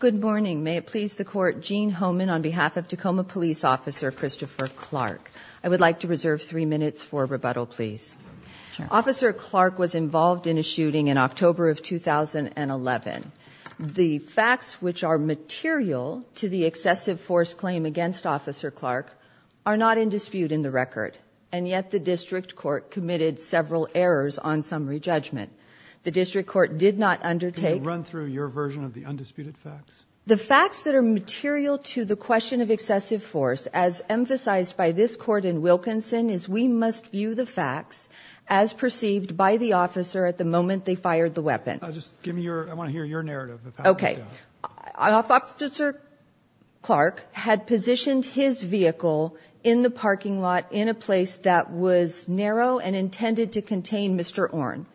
Good morning. May it please the Court, Gene Homan on behalf of Tacoma Police Officer Christopher Clark. I would like to reserve three minutes for rebuttal, please. Officer Clark was involved in a shooting in October of 2011. The facts which are material to the excessive force claim against Officer Clark are not in dispute in the record, and yet the District Court committed several errors on summary judgment. The District Court did not undertake. Can you run through your version of the undisputed facts? The facts that are material to the question of excessive force, as emphasized by this Court in Wilkinson, is we must view the facts as perceived by the officer at the moment they fired the weapon. Just give me your, I want to hear your narrative, if that's okay. Officer Clark had positioned his vehicle in the parking lot in a place that was narrow and intended to contain Mr. Orn.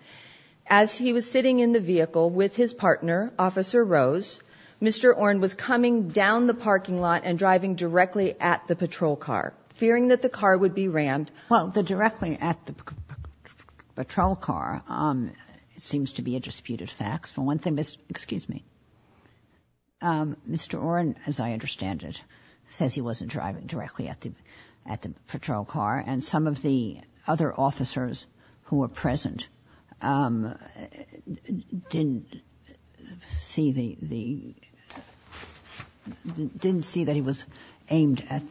As he was sitting in the vehicle with his partner, Officer Rose, Mr. Orn was coming down the parking lot and driving directly at the patrol car, fearing that the car would be rammed. Well, the directly at the patrol car seems to be a disputed fact. For one thing, Mr. Orn, as I understand it, says he wasn't driving directly at the patrol car, and some of the other officers who were present didn't see the, didn't see that he was aimed at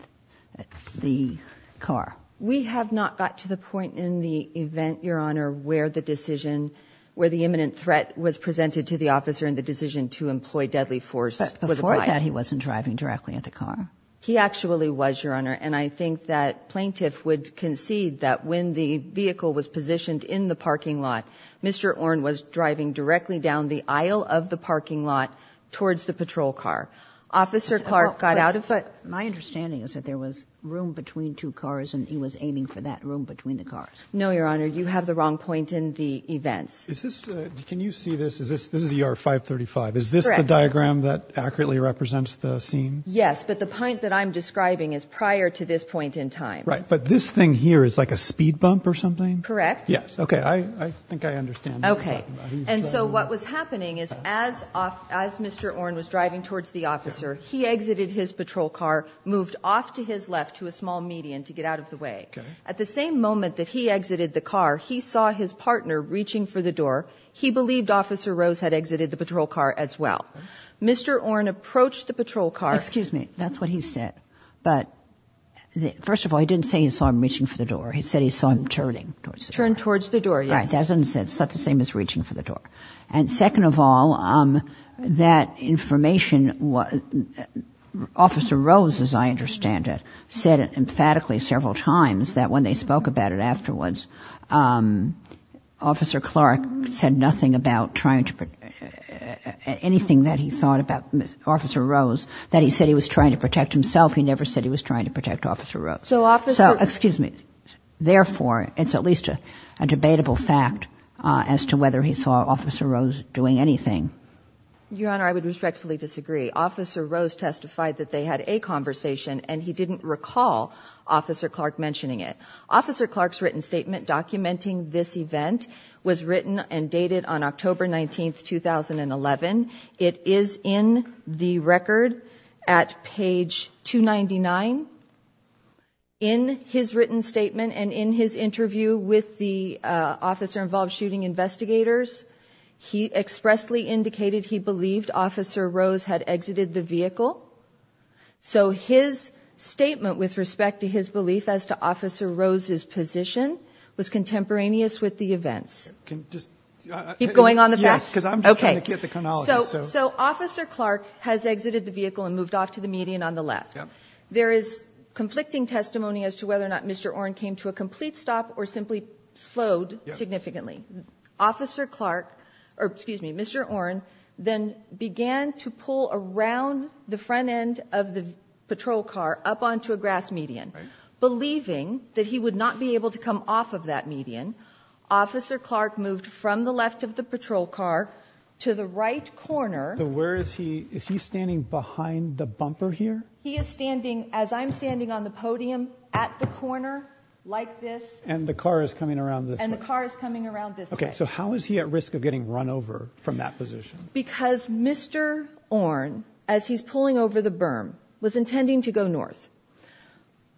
the car. We have not got to the point in the event, Your Honor, where the decision, where the imminent threat was presented to the officer and the decision to employ deadly force was applied. But before that, he wasn't driving directly at the car. He actually was, Your Honor, and I think that plaintiff would concede that when the vehicle was positioned in the parking lot, Mr. Orn was driving directly down the aisle of the parking lot towards the patrol car. Officer Clark got out of it. But my understanding is that there was room between two cars and he was aiming for that room between the cars. No, Your Honor, you have the wrong point in the events. Is this, can you see this? Is this, this is ER 535. Is this the diagram that accurately represents the scene? Yes, but the point that I'm describing is prior to this point in time. Right, but this thing here is like a speed bump or something? Correct. Yes, okay, I think I understand. Okay, and so what was happening is as Mr. Orn was driving towards the officer, he exited his patrol car, moved off to his left to a small median to get out of the way. At the same moment that he exited the car, he saw his partner reaching for the door. He believed Officer Rose had exited the patrol car as well. Mr. Orn approached the patrol car. Excuse me, that's what he said, but first of all, he didn't say he saw him reaching for the door. He said he saw him turning towards the door. Turned towards the door, yes. All right, that doesn't make sense. It's not the same as reaching for the door. And second of all, that information, Officer Rose, as I understand it, said emphatically several times that when they spoke about it afterwards, Officer Clark said nothing about trying to, anything that he thought about Officer Rose, that he said he was trying to protect himself. He never said he was trying to protect Officer Rose. So Officer... So, excuse me, therefore, it's at least a debatable fact as to whether he saw Officer Rose doing anything. Your Honor, I would respectfully disagree. Officer Rose testified that they had a conversation and he didn't recall Officer Clark mentioning it. Officer Clark's written statement documenting this event was written and dated on October 19th, 2011. It is in the record at page 299. In his written statement and in his interview with the officer-involved shooting investigators, he expressly indicated he believed Officer Rose had exited the vehicle. So his statement with respect to his belief as to Officer Rose's position was contemporaneous with the events. Can just... Keep going on the back? Yes, because I'm just trying to get the chronology, so... So Officer Clark has exited the vehicle and moved off to the median on the left. There is conflicting testimony as to whether or not Mr. Orn came to a complete stop or simply slowed significantly. Officer Clark, or excuse me, Mr. Orn, then began to pull around the grass median. Believing that he would not be able to come off of that median, Officer Clark moved from the left of the patrol car to the right corner. So where is he? Is he standing behind the bumper here? He is standing, as I'm standing on the podium, at the corner like this. And the car is coming around this way? And the car is coming around this way. Okay, so how is he at risk of getting run over from that position? Because Mr. Orn, as he's pulling over the berm, was intending to go north.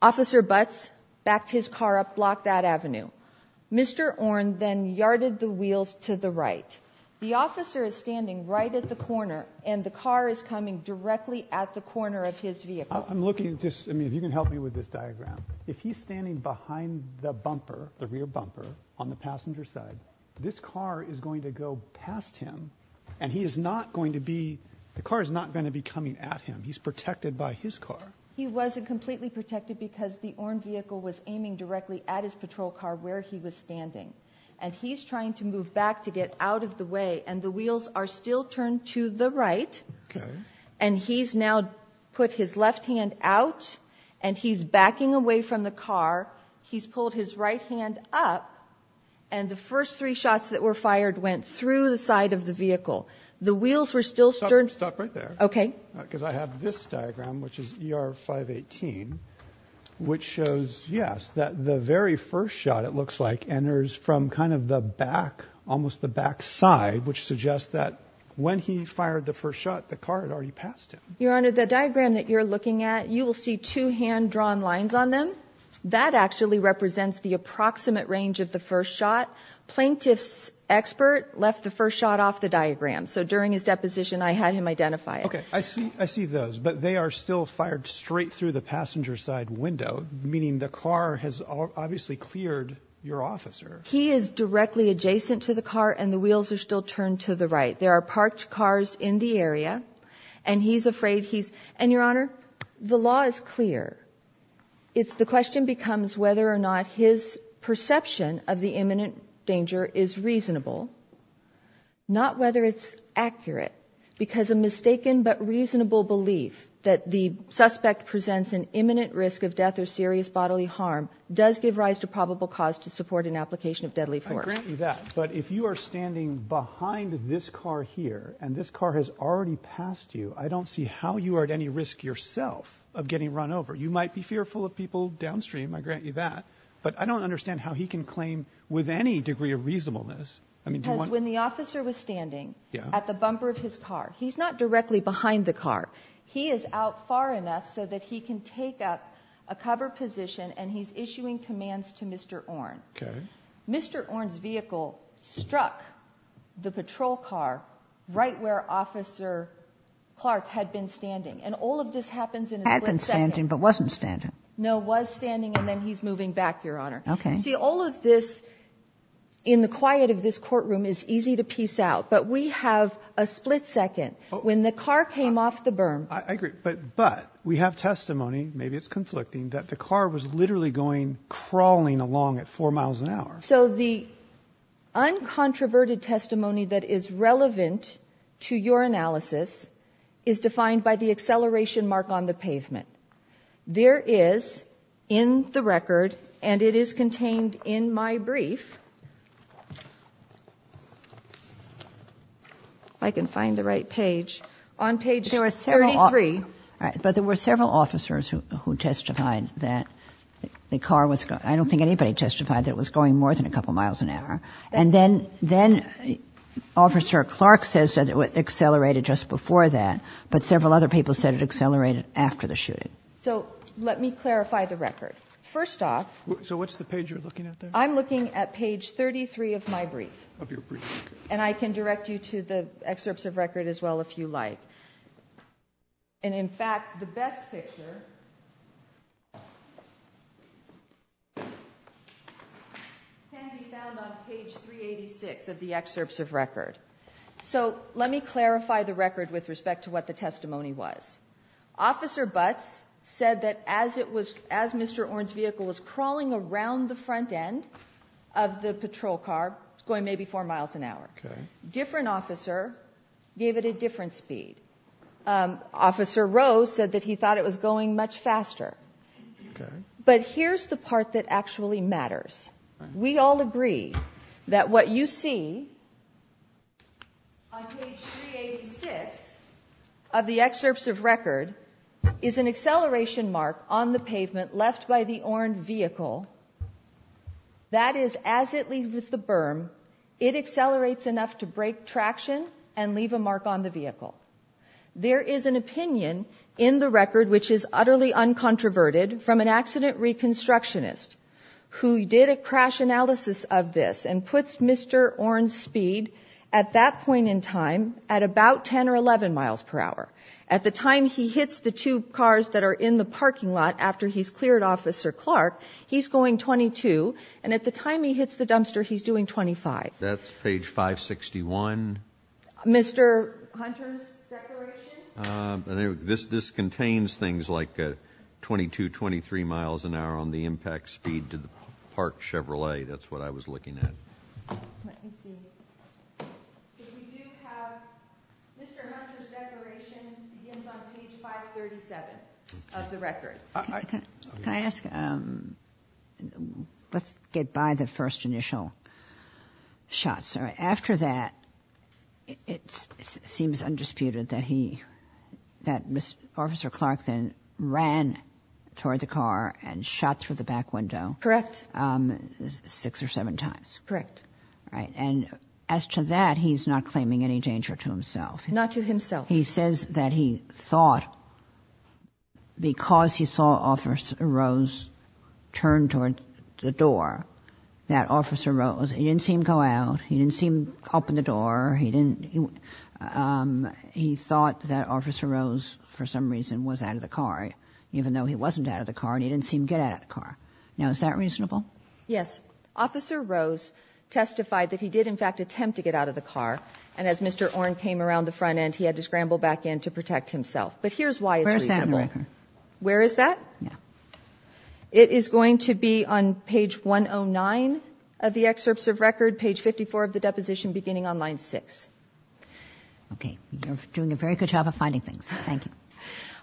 Officer Butts backed his car up block that avenue. Mr. Orn then yarded the wheels to the right. The officer is standing right at the corner and the car is coming directly at the corner of his vehicle. I'm looking just... I mean, if you can help me with this diagram. If he's standing behind the bumper, the rear bumper, on the passenger side, this car is going to go past him and he is not going to be... the car is not going to be coming at him. He's protected by his car. He wasn't completely protected because the Orn vehicle was aiming directly at his patrol car where he was standing. And he's trying to move back to get out of the way and the wheels are still turned to the right. And he's now put his left hand out and he's backing away from the car. He's pulled his right hand up and the first three shots that were fired went through the side of the vehicle. The wheels were still... Stop right there. Okay. Because I have this diagram, which is ER 518, which shows, yes, that the very first shot it looks like enters from kind of the back, almost the back side, which suggests that when he fired the first shot, the car had already passed him. Your Honor, the diagram that you're looking at, you will see two hand drawn lines on them. That actually represents the approximate range of the first shot. Plaintiff's expert left the first shot off the diagram. So during his deposition, I had him identify it. Okay. I see those, but they are still fired straight through the passenger side window, meaning the car has obviously cleared your officer. He is directly adjacent to the car and the wheels are still turned to the right. There are parked cars in the area and he's afraid he's... And Your Honor, the law is clear. It's the question becomes whether or not his perception of the imminent danger is reasonable, not whether it's accurate, because a mistaken but reasonable belief that the suspect presents an imminent risk of death or serious bodily harm does give rise to probable cause to support an application of deadly force. I grant you that, but if you are standing behind this car here and this car has already passed you, I don't see how you are at any risk yourself of getting run over. You might be fearful of people downstream. I grant you that, but I don't understand how he can claim with any degree of reasonableness. Because when the officer was standing at the bumper of his car, he's not directly behind the car. He is out far enough so that he can take up a cover position and he's issuing commands to Mr. Orne. Mr. Orne's vehicle struck the patrol car right where Officer Clark had been standing. And all of this happens in a split second. Had been standing but wasn't standing. No, was standing and then he's moving back, Your Honor. Okay. See, all of this in the quiet of this courtroom is easy to piece out, but we have a split second when the car came off the berm. I agree, but we have testimony, maybe it's conflicting, that the car was literally going crawling along at four miles an hour. So the uncontroverted testimony that is relevant to your analysis is defined by the acceleration mark on the pavement. There is, in the record, and it is contained in my brief, if I can find the right page, on page 33. But there were several officers who testified that the car was, I don't think anybody testified that it was going more than a couple miles an hour. And then Officer Clark says that it accelerated just before that, but several other people said it accelerated after the shooting. So let me clarify the record. First off. So what's the page you're looking at there? I'm looking at page 33 of my brief. Of your brief. And I can direct you to the excerpts of record as well if you like. And in fact, the best picture can be found on page 386 of the excerpts of record. So let me clarify the record with respect to what the testimony was. Officer Butts said that as Mr. Orn's vehicle was crawling around the front end of the patrol car, going maybe four miles an hour, different officer gave it a different speed. Officer Rose said that he thought it was going much faster. But here's the part that actually matters. We all agree that what you see on page 386 of the excerpts of record is an acceleration mark on the pavement left by the Orn vehicle. That is, as it leaves the berm, it accelerates enough to break traction and leave a mark on the vehicle. There is an opinion in the record, which is utterly uncontroverted, from an accident reconstructionist who did a crash analysis of this and puts Mr. Orn's speed at that point in time at about 10 or 11 miles per hour. At the time he hits the two cars that are in the parking lot after he's cleared Officer Clark, he's going 22. And at the time he hits the dumpster, he's doing 25. That's page 561. Mr. Hunter's declaration? This contains things like 22, 23 miles an hour on the impact speed to the parked Chevrolet. That's what I was looking at. Let me see. If we do have Mr. Hunter's declaration, it's on page 537 of the record. Can I ask, let's get by the first initial shots. After that, it seems undisputed that he, that Mr. Officer Clark then ran toward the car and shot through the back window. Correct. Six or seven times. Correct. Right. And as to that, he's not claiming any danger to himself. Not to himself. He says that he thought because he saw Officer Rose turn toward the door, that Officer Rose, he didn't see him go out. He didn't see him open the door. He didn't, he thought that Officer Rose, for some reason, was out of the car. Even though he wasn't out of the car, he didn't see him get out of the car. Now, is that reasonable? Officer Rose testified that he did, in fact, attempt to get out of the car. And as Mr. Orne came around the front end, he had to scramble back in to protect himself. But here's why it's reasonable. Where is that? Yeah. It is going to be on page 109 of the excerpts of record, page 54 of the deposition, beginning on line six. Okay. You're doing a very good job of finding things. Thank you.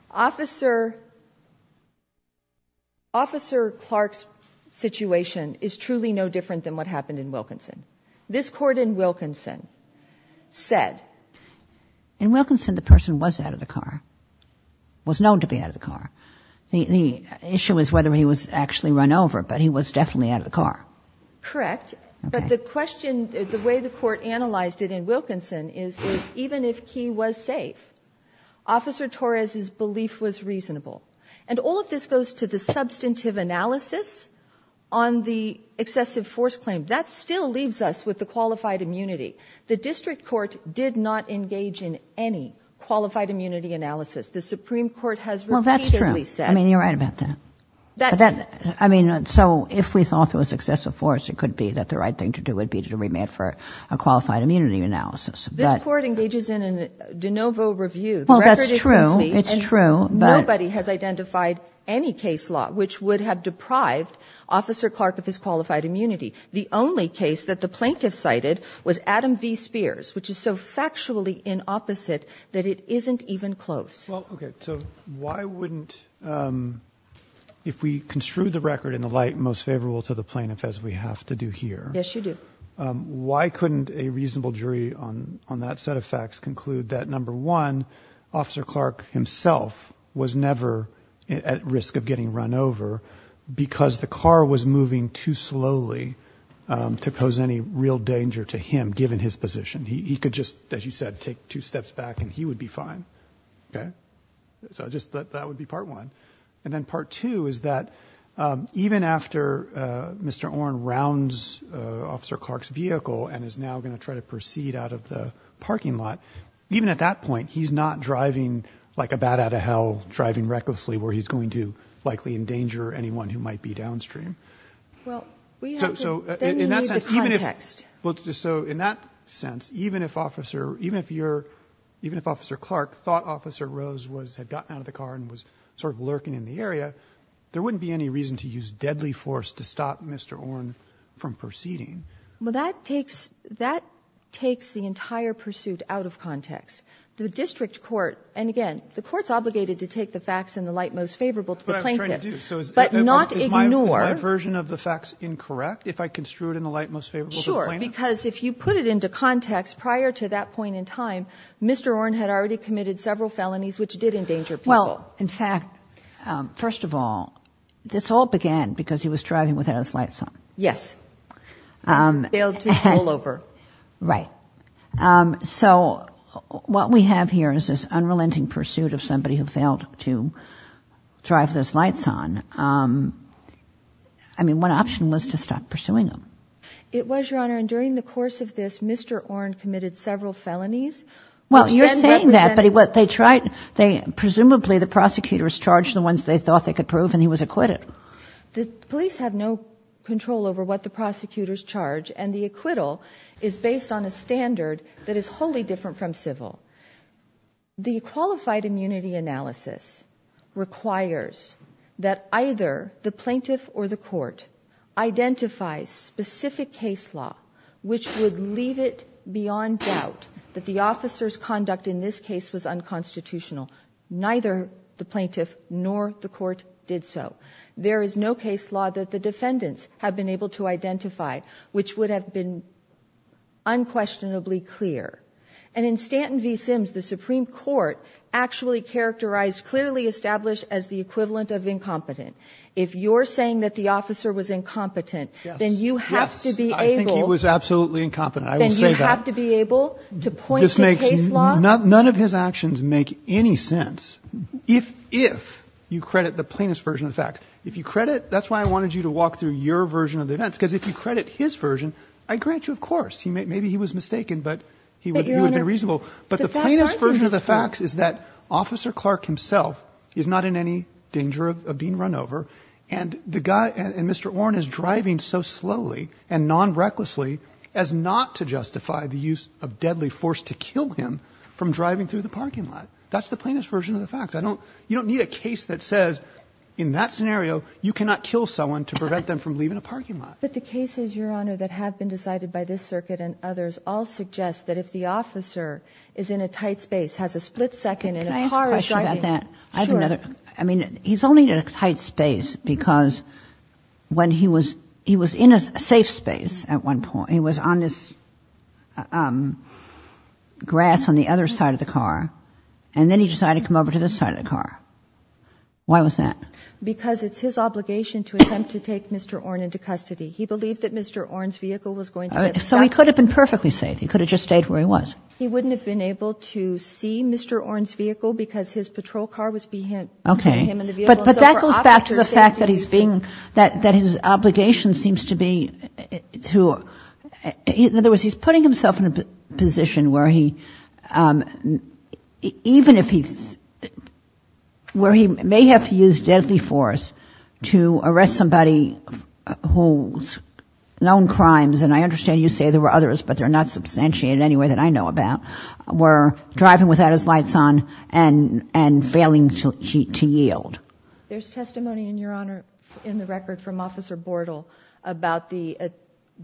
Officer, Officer Clark's situation is truly no different than what happened in Wilkinson. This court in Wilkinson said. In Wilkinson, the person was out of the car, was known to be out of the car. The issue is whether he was actually run over, but he was definitely out of the car. Correct. But the question, the way the court analyzed it in Wilkinson is, even if he was safe, Officer Torres' belief was reasonable. And all of this goes to the substantive analysis on the excessive force claim. That still leaves us with the qualified immunity. The district court did not engage in any qualified immunity analysis. The Supreme Court has repeatedly said. I mean, you're right about that. I mean, so if we thought there was excessive force, it could be that the right thing to do would be to remand for a qualified immunity analysis. This court engages in a de novo review. Well, that's true. It's true. Nobody has identified any case law which would have deprived Officer Clark of his qualified immunity. The only case that the plaintiff cited was Adam V. Spears, which is so factually inopposite that it isn't even close. Well, OK. So why wouldn't, if we construed the record in the light most favorable to the plaintiff, as we have to do here. Yes, you do. Why couldn't a reasonable jury on that set of facts conclude that, number one, Officer Clark himself was never at risk of getting run over because the car was moving too slowly to pose any real danger to him, given his position. He could just, as you said, take two steps back and he would be fine. OK, so just that would be part one. And then part two is that even after Mr. Oren rounds Officer Clark's vehicle and is now going to try to proceed out of the parking lot, even at that point, he's not driving like a bat out of hell, driving recklessly where he's going to likely endanger anyone who might be downstream. Well, we have to, then you need the context. So in that sense, even if Officer Clark thought Officer Rose had gotten out of the car and was sort of lurking in the area, there wouldn't be any reason to use deadly force to stop Mr. Oren from proceeding. Well, that takes the entire pursuit out of context. The district court, and again, the court's obligated to take the facts in the light most favorable to the plaintiff. That's what I was trying to do. So is my version of the facts incorrect if I construe it in the light most favorable? Sure, because if you put it into context, prior to that point in time, Mr. Oren had already committed several felonies, which did endanger people. Well, in fact, first of all, this all began because he was driving without his lights on. Yes. Bailed to all over. Right. So what we have here is this unrelenting pursuit of somebody who failed to drive with his lights on. I mean, one option was to stop pursuing him. It was, Your Honor, and during the course of this, Mr. Oren committed several felonies. Well, you're saying that, but presumably the prosecutors charged the ones they thought they could prove, and he was acquitted. The police have no control over what the prosecutors charge, and the acquittal is based on a standard that is wholly different from civil. The qualified immunity analysis requires that either the plaintiff or the court identify specific case law, which would leave it beyond doubt that the officer's conduct in this case was unconstitutional. Neither the plaintiff nor the court did so. There is no case law that the defendants have been able to identify, which would have been unquestionably clear. And in Stanton v. Sims, the Supreme Court actually characterized, clearly established as the equivalent of incompetent. If you're saying that the officer was incompetent, then you have to be able to point to case law. None of his actions make any sense, if you credit the plaintiff's version of the facts. If you credit, that's why I wanted you to walk through your version of the events, because if you credit his version, I grant you, of course, maybe he was mistaken, but he would have been reasonable. But the plaintiff's version of the facts is that of being run over, and Mr. Orn is driving so slowly and non-recklessly as not to justify the use of deadly force to kill him from driving through the parking lot. That's the plaintiff's version of the facts. You don't need a case that says, in that scenario, you cannot kill someone to prevent them from leaving a parking lot. But the cases, Your Honor, that have been decided by this circuit and others all suggest that if the officer is in a tight space, has a split second, and a car is driving next to him. I mean, he's only in a tight space because he was in a safe space at one point. He was on this grass on the other side of the car, and then he decided to come over to this side of the car. Why was that? Because it's his obligation to attempt to take Mr. Orn into custody. He believed that Mr. Orn's vehicle was going to get stuck. So he could have been perfectly safe. He could have just stayed where he was. He wouldn't have been able to see Mr. Orn's vehicle because his patrol car was behind. Okay. But that goes back to the fact that he's being, that his obligation seems to be to, in other words, he's putting himself in a position where he, even if he, where he may have to use deadly force to arrest somebody who's known crimes, and I understand you say there were others, but they're not substantiated in any way that I know about, were driving without his lights on and failing to yield. There's testimony in your honor, in the record from Officer Bordel about the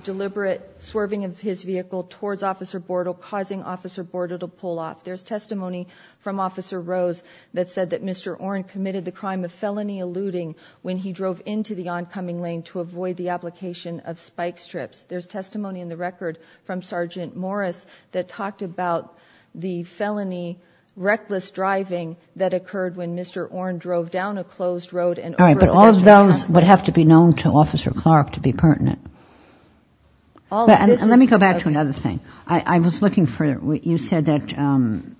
deliberate swerving of his vehicle towards Officer Bordel causing Officer Bordel to pull off. There's testimony from Officer Rose that said that Mr. Orn committed the crime of felony eluding when he drove into the oncoming lane to avoid the application of spike strips. There's testimony in the record from Sergeant Morris that talked about the felony reckless driving that occurred when Mr. Orn drove down a closed road. All right, but all of those would have to be known to Officer Clark to be pertinent. Let me go back to another thing. I was looking for, you said that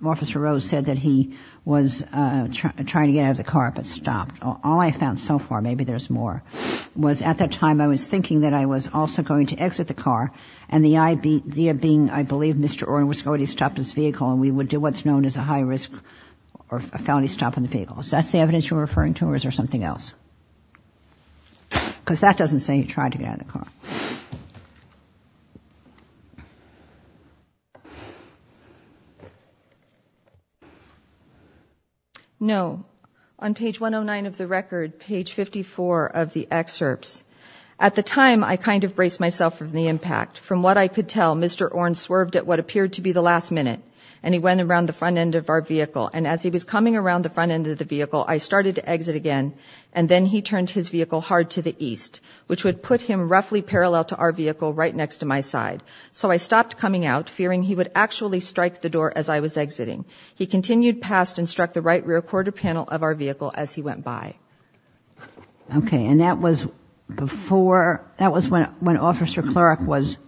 Officer Rose said that he was trying to get out of the car but stopped. All I found so far, maybe there's more, was at that time I was thinking that I was also going to exit the car and the idea being I believe Mr. Orn was already stopped his vehicle and we would do what's known as a high risk or a felony stop on the vehicle. Is that the evidence you're referring to or is there something else? Because that doesn't say he tried to get out of the car. No. On page 109 of the record, page 54 of the excerpts, at the time I kind of braced myself from the impact. From what I could tell, Mr. Orn swerved at what appeared to be the last minute and he went around the front end of our vehicle and as he was coming around the front end of the vehicle, I started to exit again and then he turned his vehicle hard to the east, which would put him roughly parallel to our vehicle right next to my side. So I stopped the vehicle and stopped coming out, fearing he would actually strike the door as I was exiting. He continued past and struck the right rear quarter panel of our vehicle as he went by. Okay and that was before, that was when when Officer Clark was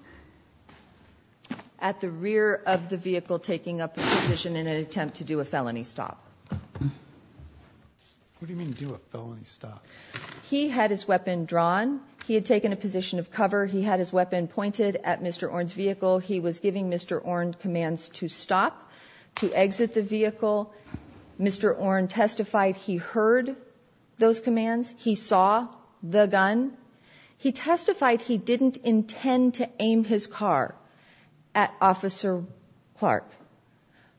at the rear of the vehicle taking up a position in an attempt to do a felony stop. What do you mean do a felony stop? He had his weapon drawn, he had taken a position of cover, he had his weapon pointed at Mr. Orn's vehicle, he was giving Mr. Orn commands to stop, to exit the vehicle. Mr. Orn testified he heard those commands, he saw the gun. He testified he didn't intend to aim his car at Officer Clark,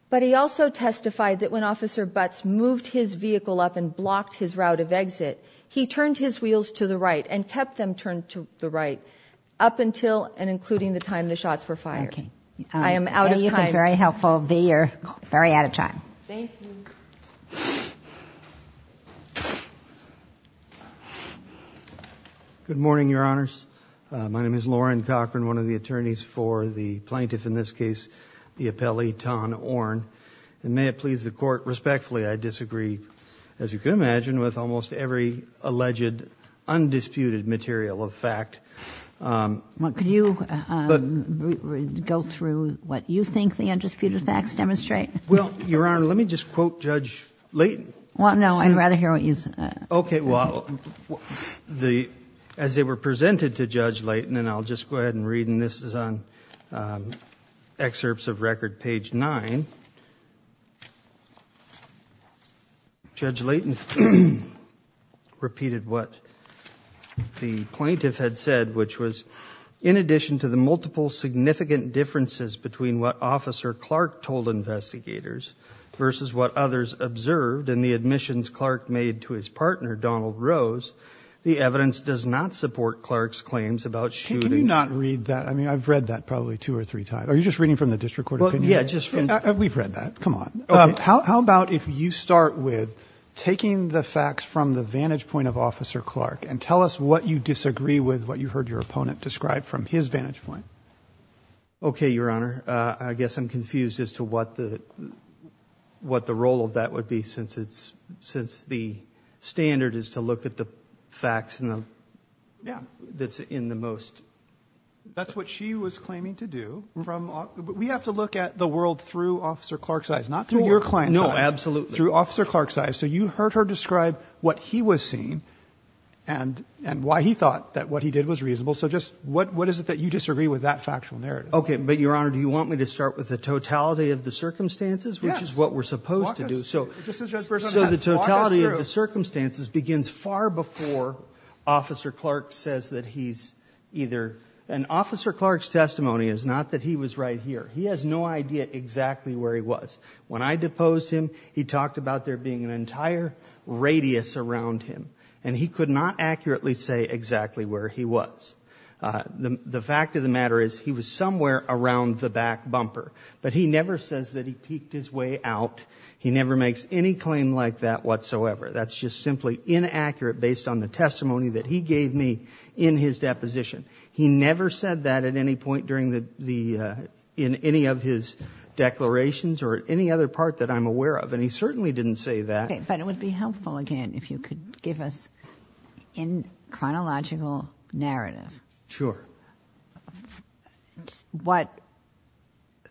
but he also testified that when Officer Butts moved his vehicle up and blocked his route of exit, he turned his wheels to the up until and including the time the shots were fired. I am out of time. Very helpful. You're very out of time. Good morning, Your Honors. My name is Loren Cochran, one of the attorneys for the plaintiff, in this case, the appellee, Tom Orn. And may it please the court, respectfully, I disagree, as you can imagine, with almost every alleged undisputed material of fact. Well, could you go through what you think the undisputed facts demonstrate? Well, Your Honor, let me just quote Judge Leighton. Well, no, I'd rather hear what you say. Okay, well, as they were presented to Judge Leighton, and I'll just go ahead and read, this is on excerpts of record, page nine. Judge Leighton repeated what the plaintiff had said, which was, in addition to the multiple significant differences between what Officer Clark told investigators versus what others observed in the admissions Clark made to his partner, Donald Rose, the evidence does not support Clark's claims about shooting. I mean, I've read that probably two or three times. Are you just reading from the disc recorded? We've read that, come on. How about if you start with taking the facts from the vantage point of Officer Clark and tell us what you disagree with, what you heard your opponent describe from his vantage point? Okay, Your Honor. I guess I'm confused as to what the role of that would be since the standard is to look at the facts that's in the most that's what she was claiming to do. We have to look at the world through Officer Clark's eyes, not through your client's eyes. No, absolutely. Through Officer Clark's eyes. So you heard her describe what he was seeing and why he thought that what he did was reasonable. So just what is it that you disagree with that factual narrative? Okay, but Your Honor, do you want me to start with the totality of the circumstances, which is what we're supposed to do? So the totality of the circumstances begins far before Officer Clark says that he's either, and Officer Clark's testimony is not that he was right here. He has no idea exactly where he was. When I deposed him, he talked about there being an entire radius around him, and he could not accurately say exactly where he was. The fact of the matter is he was somewhere around the back bumper, but he never says that he peeked his way out. He never makes any claim like that whatsoever. That's just simply inaccurate based on the testimony that he gave me in his deposition. He never said that at any point during the, in any of his declarations or any other part that I'm aware of, and he certainly didn't say that. Okay, but it would be helpful again if you could give us in chronological narrative. Sure. What,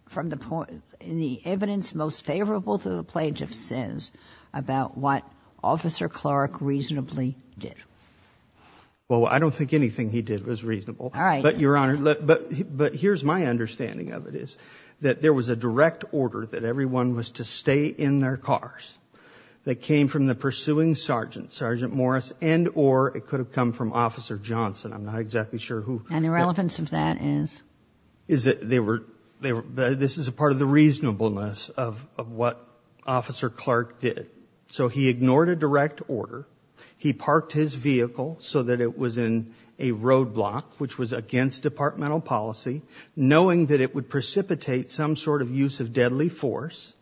from the point, in the evidence most favorable to the Plage of Sins, about what Officer Clark reasonably did. Well, I don't think anything he did was reasonable. All right. But Your Honor, but here's my understanding of it is that there was a direct order that everyone was to stay in their cars. That came from the pursuing sergeant, Sergeant Morris, and or it could have come from Officer Johnson. I'm not exactly sure who. And the relevance of that is? Is that they were, they were, this is a part of the reasonableness of, of what Officer Clark did. So he ignored a direct order. He parked his vehicle so that it was in a roadblock, which was against departmental policy, knowing that it would precipitate some sort of use of deadly force,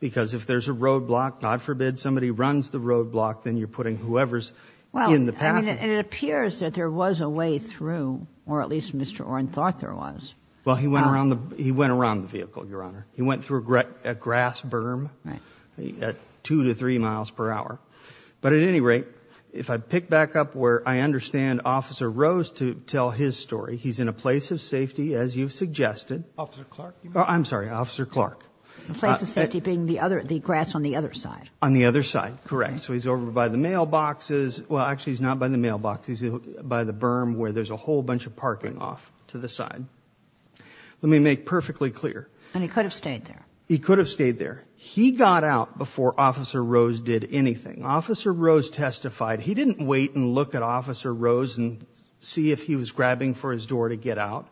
because if there's a roadblock, God forbid somebody runs the roadblock, then you're putting whoever's in the path. And it appears that there was a way through, or at least Mr. Oren thought there was. Well, he went around the, he went around the vehicle, Your Honor. He went through a grass berm at two to three miles per hour. But at any rate, if I pick back up where I understand Officer Rose to tell his story, he's in a place of safety, as you've suggested. Officer Clark. I'm sorry, Officer Clark. A place of safety being the other, the grass on the other side. On the other side. Correct. So he's over by the mailboxes. Well, actually he's not by the mailbox. He's by the berm where there's a whole bunch of parking off to the side. Let me make perfectly clear. And he could have stayed there. He could have stayed there. He got out before Officer Rose did anything. Officer Rose testified. He didn't wait and look at Officer Rose and see if he was grabbing for his door to get out.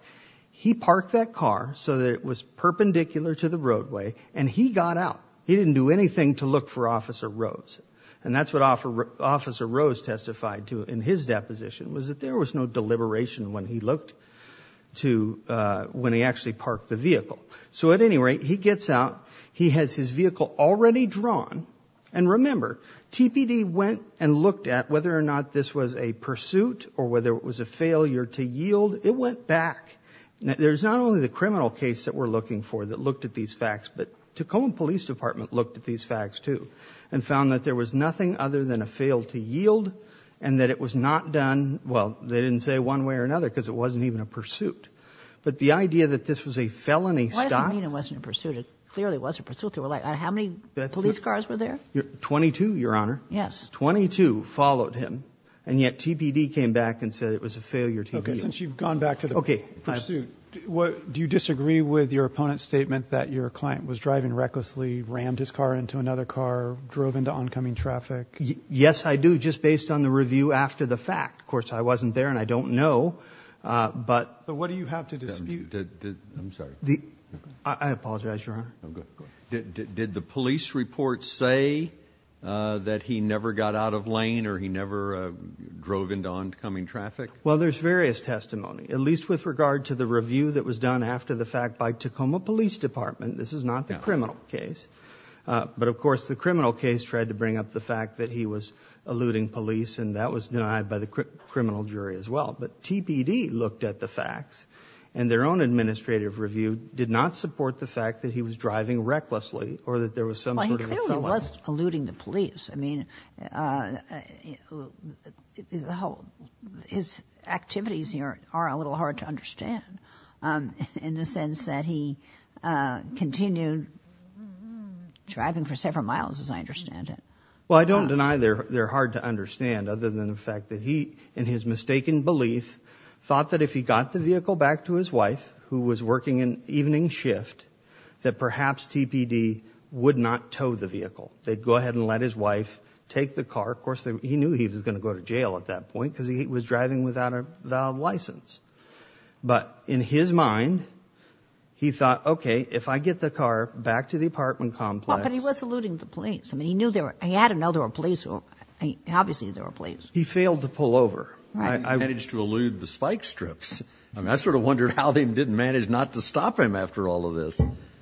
He parked that car so that it was perpendicular to the roadway and he got out. He didn't do anything to look for Officer Rose. And that's what Officer Rose testified to in his deposition, was that there was no deliberation when he looked to, when he actually parked the vehicle. So at any rate, he gets out. He has his vehicle already drawn. And remember, TPD went and looked at whether or not this was a pursuit or whether it was a failure to yield. It went back. There's not only the criminal case that we're looking for that looked at these facts, but Tacoma Police Department looked at these facts too and found that there was nothing other than a fail to yield and that it was not done, well, they didn't say one way or another because it wasn't even a pursuit. But the idea that this was a felony stop. Why does it mean it wasn't a pursuit? It clearly was a pursuit. They were like, how many police cars were there? Twenty-two, Your Honor. Yes. Twenty-two followed him. And yet TPD came back and said it was a failure to yield. Okay. Since you've gone back to the pursuit, do you disagree with your opponent's statement that your client was driving recklessly, rammed his car into another car, drove into oncoming traffic? Yes, I do. Just based on the review after the fact. Of course, I wasn't there and I don't know. But what do you have to dispute? I'm sorry. I apologize, Your Honor. Did the police report say that he never got out lane or he never drove into oncoming traffic? Well, there's various testimony, at least with regard to the review that was done after the fact by Tacoma Police Department. This is not the criminal case. But of course, the criminal case tried to bring up the fact that he was eluding police and that was denied by the criminal jury as well. But TPD looked at the facts and their own administrative review did not support the fact that he was driving recklessly or that he clearly was eluding the police. I mean, his activities here are a little hard to understand in the sense that he continued driving for several miles, as I understand it. Well, I don't deny they're hard to understand other than the fact that he, in his mistaken belief, thought that if he got the vehicle back to his wife, who was working an evening shift, that perhaps TPD would not tow the vehicle. They'd go ahead and let his wife take the car. Of course, he knew he was going to go to jail at that point because he was driving without a valid license. But in his mind, he thought, okay, if I get the car back to the apartment complex. But he was eluding the police. I mean, he knew there were, he had to know there were police. Obviously, there were police. He failed to pull over. I managed to elude the spike strips. I mean, how they didn't manage not to stop him after all of this.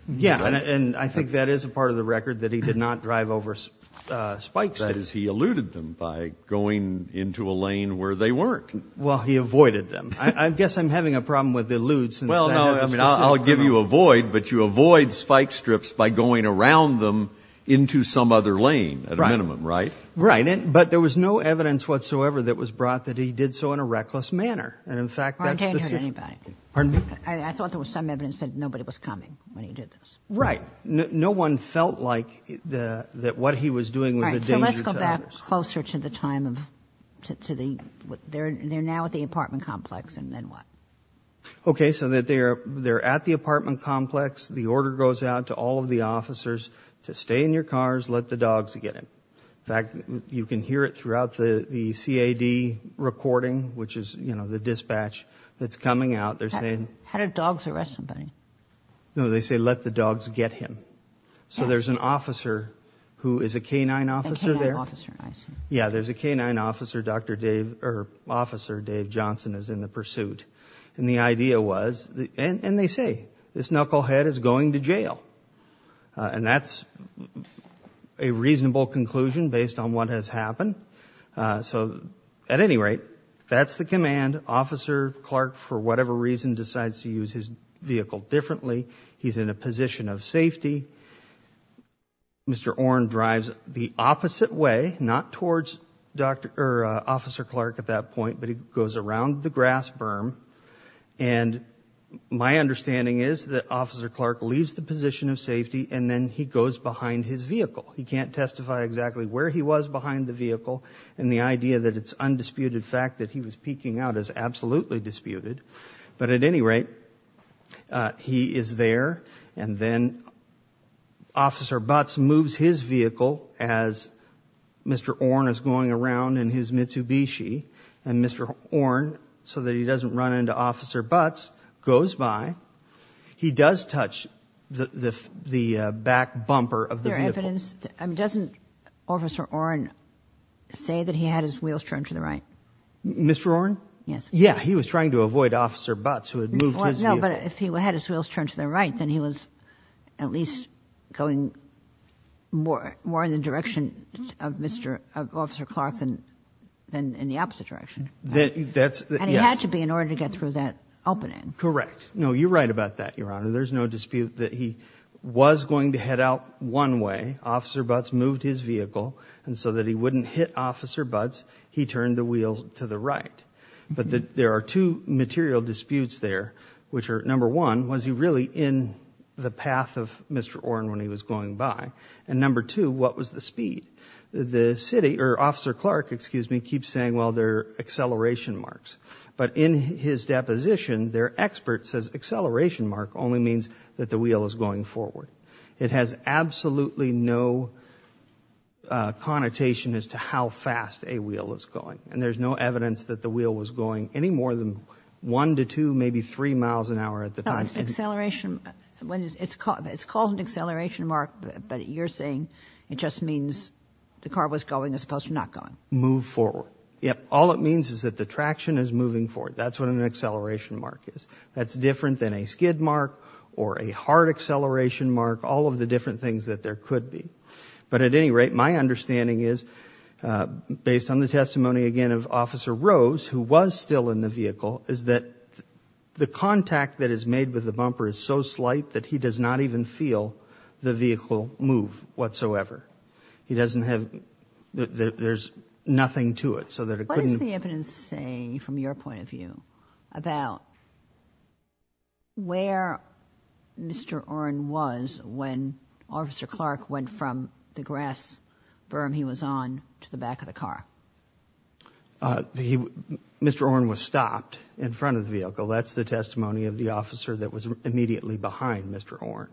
Yeah. And I think that is a part of the record that he did not drive over spikes. That is, he eluded them by going into a lane where they weren't. Well, he avoided them. I guess I'm having a problem with the eludes. I'll give you avoid, but you avoid spike strips by going around them into some other lane at a minimum. Right. Right. But there was no evidence whatsoever that was brought that he did so in a reckless manner. And in fact, I thought there was some evidence that nobody was coming when he did this. Right. No one felt like the, that what he was doing was a danger to others. So let's go back closer to the time of, to the, they're now at the apartment complex and then what? Okay. So that they're, they're at the apartment complex. The order goes out to all of the officers to stay in your cars, let the dogs get in. In fact, you can hear it throughout the CAD recording, which is, you know, the dispatch that's coming out. They're saying, how did dogs arrest somebody? No, they say, let the dogs get him. So there's an officer who is a canine officer there. Yeah. There's a canine officer. Dr. Dave or officer Dave Johnson is in the pursuit. And the idea was, and they say this knucklehead is going to jail. And that's a reasonable conclusion based on what has happened. So at any rate, that's the command officer Clark, for whatever reason, decides to use his vehicle differently. He's in a position of safety. Mr. Oren drives the opposite way, not towards Dr. or officer Clark at that point, but he goes around the grass berm. And my understanding is that officer Clark leaves the position of safety and then he goes behind his vehicle. He can't testify exactly where he was behind the vehicle. And the idea that it's undisputed fact that he was peeking out is absolutely disputed. But at any rate, he is there. And then officer Butts moves his vehicle as Mr. Orn is going around in his Mitsubishi and Mr. Orn, so that he doesn't run into officer Butts, goes by, he does touch the back bumper of the vehicle. I mean, doesn't officer Orn say that he had his wheels turned to the right? Mr. Orn? Yes. Yeah, he was trying to avoid officer Butts who had moved his vehicle. No, but if he had his wheels turned to the right, then he was at least going more in the direction of officer Clark than in the opposite direction. And he had to be in order to get through that opening. Correct. No, you're right about that, Your Honor. There's no dispute that he was going to head out one way. Officer Butts moved his vehicle. And so that he wouldn't hit officer Butts, he turned the wheels to the right. But there are two material disputes there, which are number one, was he really in the path of Mr. Orn when he was going by? And number two, what was the speed? The city, or officer Clark, excuse me, keeps saying, well, they're acceleration marks. But in his deposition, their expert says acceleration mark only means that the wheel is going forward. It has absolutely no connotation as to how fast a wheel is going. And there's no evidence that the wheel was going any more than one to two, maybe three miles an hour at the time. Acceleration. It's called an acceleration mark, but you're saying it just means the car was going as opposed to not going. Move forward. Yep. All it means is that the traction is moving forward. That's what an acceleration mark is. That's different than a skid mark or a hard acceleration mark, all of the different things that there could be. But at any rate, my understanding is, based on the testimony, again, of officer Rose, who was still in the vehicle, is that the contact that is made with the bumper is so slight that he does not even feel the vehicle move whatsoever. He doesn't have, there's nothing to it so that it couldn't. What does the evidence say from your point of view about where Mr. Oren was when officer Clark went from the grass berm he was on to the back of the car? Mr. Oren was stopped in front of the vehicle. That's the testimony of the officer that was immediately behind Mr. Oren.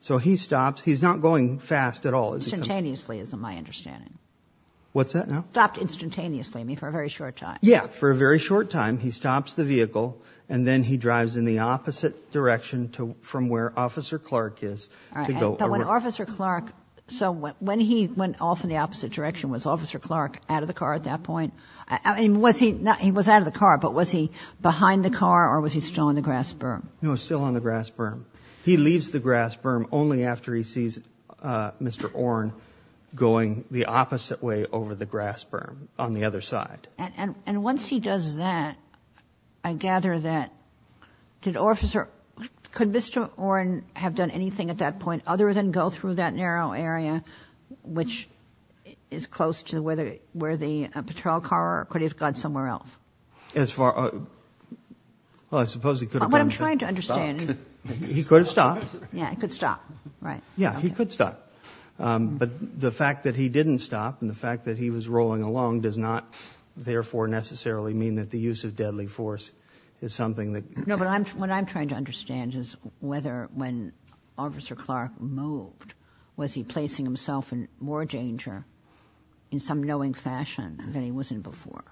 So he stops, he's not going fast at all. Instantaneously is my understanding. What's that now? Stopped instantaneously, I mean for a very short time. Yeah, for a very short time. He stops the vehicle and then he drives in the opposite direction from where officer Clark is. But when officer Clark, so when he went off in the opposite direction, was officer Clark out of the car at that point? I mean, was he not, he was out of the car, but was he behind the car or was he still on the grass berm? No, still on the grass berm. He leaves the grass berm only after he sees Mr. Oren going the opposite way over the grass berm on the other side. And once he does that, I gather that, did officer, could Mr. Oren have done anything at that point other than go through that narrow area which is close to where the, where the patrol car, or could he have gone somewhere else? As far, well, I suppose he could have. What I'm trying to understand. He could have stopped. Yeah, he could stop, right? Yeah, he could stop. But the fact that he didn't stop and the fact that he was rolling along does not therefore necessarily mean that the use of deadly force is something that. No, but I'm, what I'm trying to understand is whether when officer Clark moved, was he placing himself in more danger in some knowing fashion than he was in before?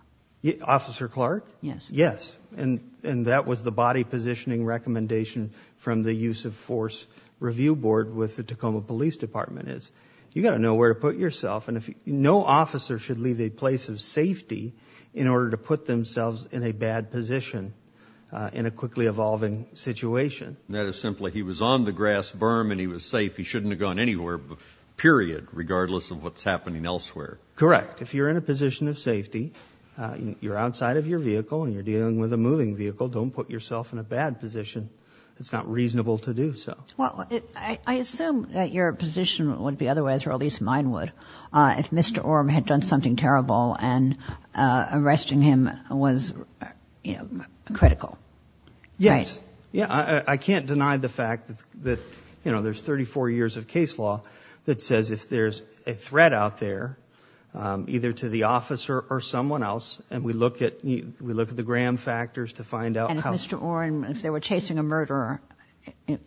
Officer Clark? Yes. Yes. And, and that was the body positioning recommendation from the use of force review board with the Tacoma police department is, you got to know where to put yourself. And if no officer should leave a place of safety in order to put themselves in a bad position, uh, in a quickly evolving situation. That is simply, he was on the grass berm and he was safe. He shouldn't have gone anywhere, period, regardless of what's happening elsewhere. Correct. If you're in a position of safety, you're outside of your vehicle and you're dealing with a moving vehicle, don't put yourself in a bad position. It's not reasonable to do so. Well, I, I assume that your position would be otherwise, or at least mine would, uh, if Mr. Orm had done something terrible and, uh, arresting him was, you know, critical. Yes. Yeah. I can't deny the fact that, that, you know, there's 34 years of case law that says if there's a threat out there, um, either to the officer or someone else. And we look at, we look at the Graham factors to find out how Mr. Orm, if they were chasing a murderer, it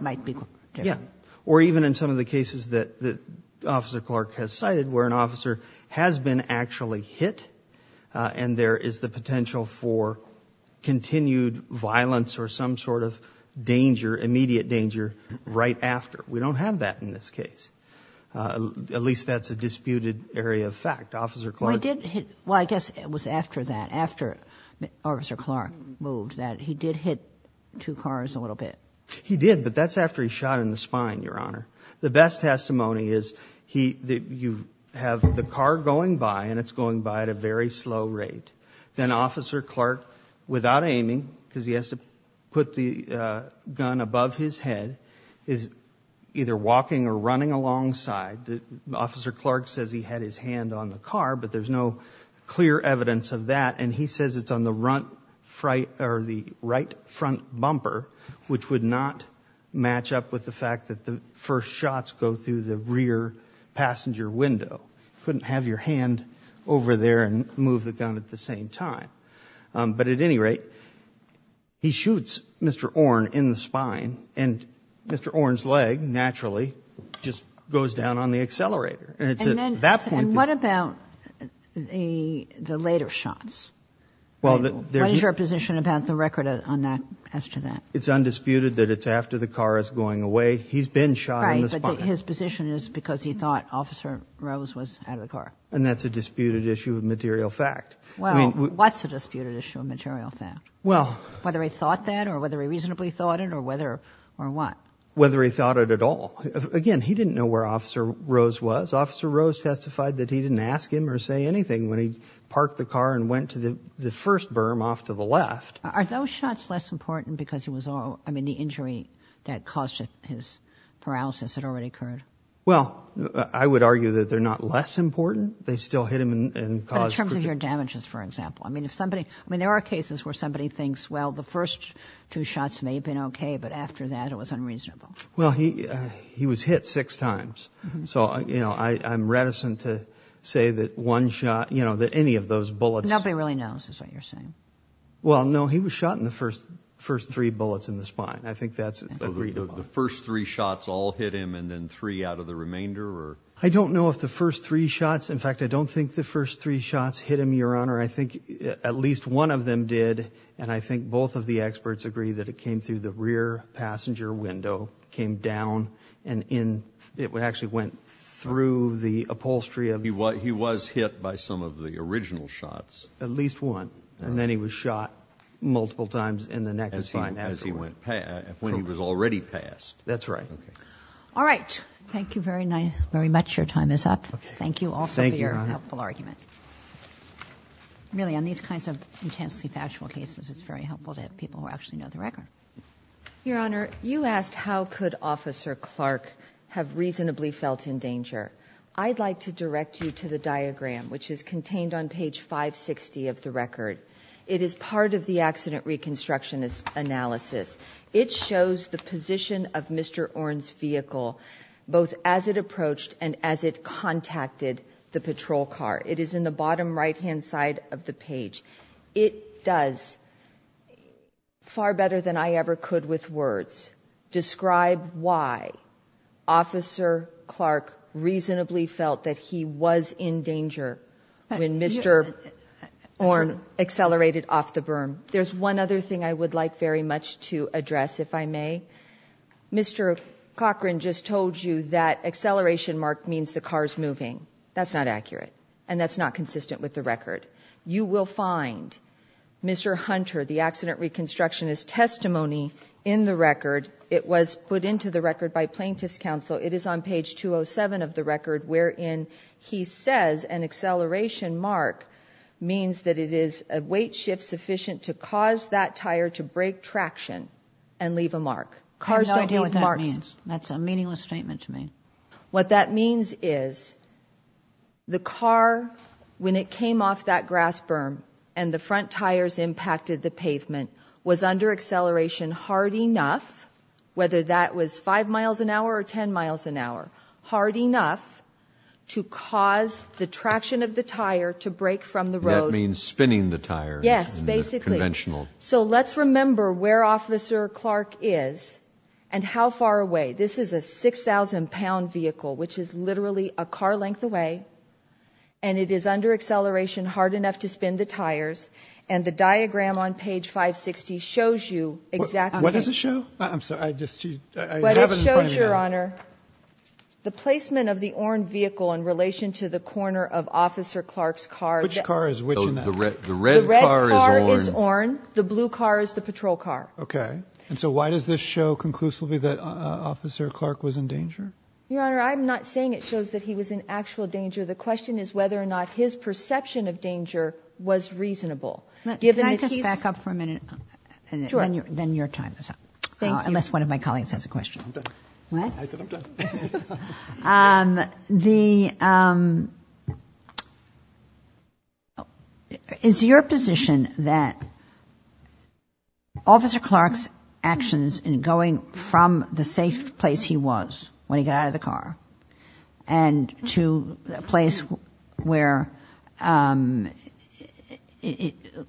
might be. Yeah. Or even in some of the cases that the officer Clark has cited, where an officer has been actually hit, uh, and there is the potential for continued violence or some sort of danger, immediate danger right after. We don't have that in this case. Uh, at least that's a disputed area of fact, officer Clark. Well, I guess it was after that, after officer Clark moved that he did hit two cars a little bit. He did, but that's after he shot in The best testimony is he, that you have the car going by and it's going by at a very slow rate. Then officer Clark, without aiming, because he has to put the, uh, gun above his head, is either walking or running alongside the officer. Clark says he had his hand on the car, but there's no clear evidence of that. And he says it's on the run fright or the right front bumper, which would match up with the fact that the first shots go through the rear passenger window. Couldn't have your hand over there and move the gun at the same time. Um, but at any rate, he shoots Mr. Orne in the spine and Mr. Orne's leg naturally just goes down on the accelerator. And it's at that point. And what about the, the later shots? Well, what is your position about the record on that, as to that? It's undisputed that it's after the car is going away. He's been shot in the spine. His position is because he thought officer Rose was out of the car. And that's a disputed issue of material fact. Well, what's a disputed issue of material fact? Well, whether he thought that or whether he reasonably thought it or whether or what? Whether he thought it at all. Again, he didn't know where officer Rose was. Officer Rose testified that he didn't ask him or say anything when he parked the car and went to the first berm off to the left. Are those shots less important because he was all, I mean, the injury that caused it, his paralysis had already occurred. Well, I would argue that they're not less important. They still hit him and cause. In terms of your damages, for example, I mean, if somebody, I mean, there are cases where somebody thinks, well, the first two shots may have been okay, but after that it was unreasonable. Well, he, uh, he was hit six times. So, you know, I, I'm reticent to say that one shot, you know, that any of those bullets. Nobody really knows is what you're saying. Well, no, he was shot in the first, first three bullets in the spine. I think that's agreed. The first three shots all hit him and then three out of the remainder or. I don't know if the first three shots. In fact, I don't think the first three shots hit him, your honor. I think at least one of them did. And I think both of the experts agree that it came through the rear passenger window, came down and in, it would actually went through the upholstery of. He was, he was hit by some of the original shots. At least one. And then he was shot multiple times in the neck as fine as he went past when he was already passed. That's right. Okay. All right. Thank you very nice. Very much. Your time is up. Thank you. Also your helpful argument really on these kinds of intensely factual cases, it's very helpful to have people who actually know the record. Your honor, you asked how could officer Clark have reasonably felt in danger. I'd like to direct you to the diagram, which is contained on page five 60 of the record. It is part of the accident reconstruction is analysis. It shows the position of Mr. Orange vehicle, both as it approached and as it contacted the patrol car, it is in the bottom right-hand side of the page. It does far better than I ever could with words. Describe why officer Clark reasonably felt that he in danger when Mr. Orange accelerated off the berm. There's one other thing I would like very much to address. If I may, Mr. Cochran just told you that acceleration mark means the car's moving. That's not accurate. And that's not consistent with the record. You will find Mr. Hunter, the accident reconstruction is testimony in the record. It was put into the record by plaintiff's counsel. It is on page 207 of the record, wherein he says an acceleration mark means that it is a weight shift sufficient to cause that tire to break traction and leave a mark. I have no idea what that means. That's a meaningless statement to me. What that means is the car, when it came off that grass berm and the front tires impacted the pavement was under acceleration hard enough, whether that was five miles an hour or 10 miles an hour, hard enough to cause the traction of the tire to break from the road. That means spinning the tires. Yes, basically. Conventional. So let's remember where officer Clark is and how far away. This is a 6,000 pound vehicle, which is literally a car length away and it is under acceleration hard enough to spin the tires and the diagram on page 560 shows you exactly what does it show? I'm sorry. I just, I haven't shown your honor the placement of the orange vehicle in relation to the corner of officer Clark's car, which car is which the red, the red car is orange. The blue car is the patrol car. Okay. And so why does this show conclusively that officer Clark was in danger? Your honor, I'm not saying it shows that he was in actual danger. The question is whether or not his perception of danger was reasonable. Can I just back up for a minute? Sure. Then your time is up. Thank you. Unless one of my colleagues has a question. I'm done. What? I said I'm done. Is your position that officer Clark's actions in going from the safe place he was when he got out of the car and to a place where,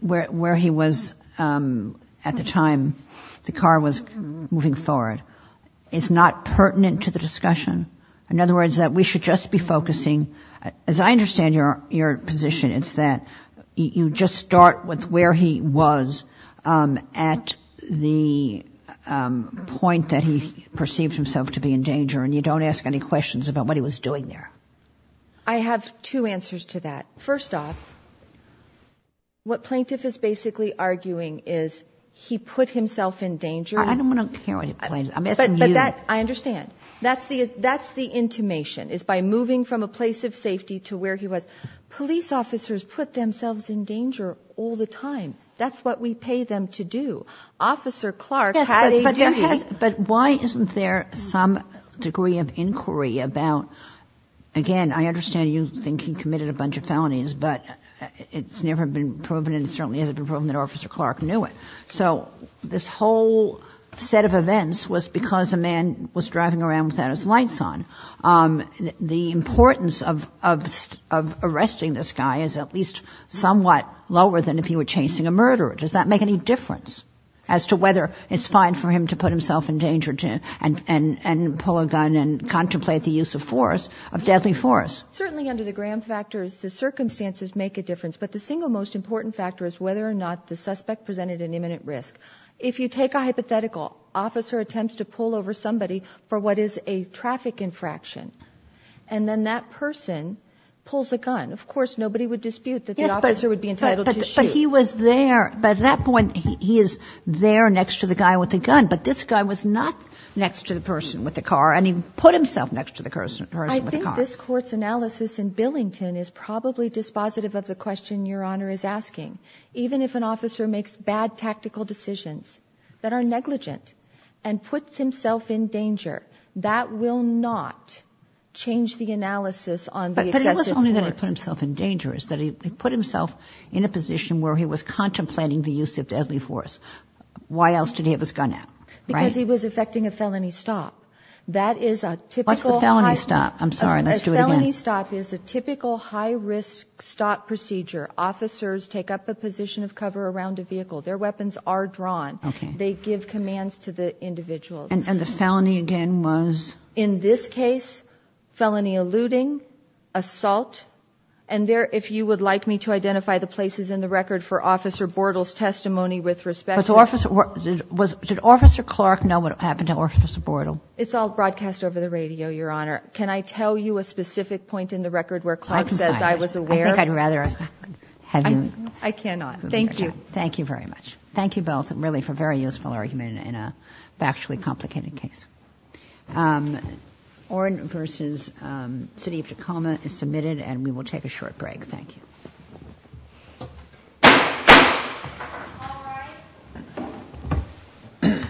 where he was at the time the car was moving forward is not pertinent to the discussion? In other words, that we should just be focusing, as I understand your position, it's that you just start with where he was at the point that he perceived himself to be and you don't ask any questions about what he was doing there. I have two answers to that. First off, what plaintiff is basically arguing is he put himself in danger. I don't want to hear what it plays. I'm asking you. I understand. That's the, that's the intimation is by moving from a place of safety to where he was. Police officers put themselves in danger all the time. That's what we pay them to do. Officer Clark. But why isn't there some degree of inquiry about, again, I understand you think he committed a bunch of felonies, but it's never been proven. And it certainly hasn't been proven that officer Clark knew it. So this whole set of events was because a man was driving around without his lights on. The importance of, of, of arresting this guy is at least somewhat lower than if he were chasing a murderer. Does that make any difference as to whether it's fine for him to put himself in danger to and, and, and pull a gun and contemplate the use of force of deadly force? Certainly under the Graham factors, the circumstances make a difference, but the single most important factor is whether or not the suspect presented an imminent risk. If you take a hypothetical officer attempts to pull over somebody for what is a traffic infraction, and then that person pulls a gun, of course, nobody would dispute that the officer would be entitled to shoot. But he was there, but at that point he is there next to the guy with the gun, but this guy was not next to the person with the car and he put himself next to the person with the car. I think this court's analysis in Billington is probably dispositive of the question your honor is asking. Even if an officer makes bad tactical decisions that are negligent and puts himself in danger, that will not change the analysis on the excessive force. But it wasn't only that he put himself in danger, it's that he put himself in a position where he was contemplating the use of deadly force. Why else did he have his gun out? Because he was effecting a felony stop. That is a typical felony stop. I'm sorry, let's do it again. A felony stop is a typical high risk stop procedure. Officers take up a position of cover around a vehicle. Their weapons are drawn. Okay. They give commands to the individuals. And the felony again was? In this case, felony eluding, assault, and there, if you would like me to identify the places in the record for Officer Bortle's testimony with respect. Did Officer Clark know what happened to Officer Bortle? It's all broadcast over the radio your honor. Can I tell you a specific point in the record where Clark says I was aware? I think I'd rather have you. I cannot. Thank you. Thank you very much. Thank you both really for very useful argument in a factually complicated case. Orrin versus city of Tacoma is submitted and we will take a short break. Thank you.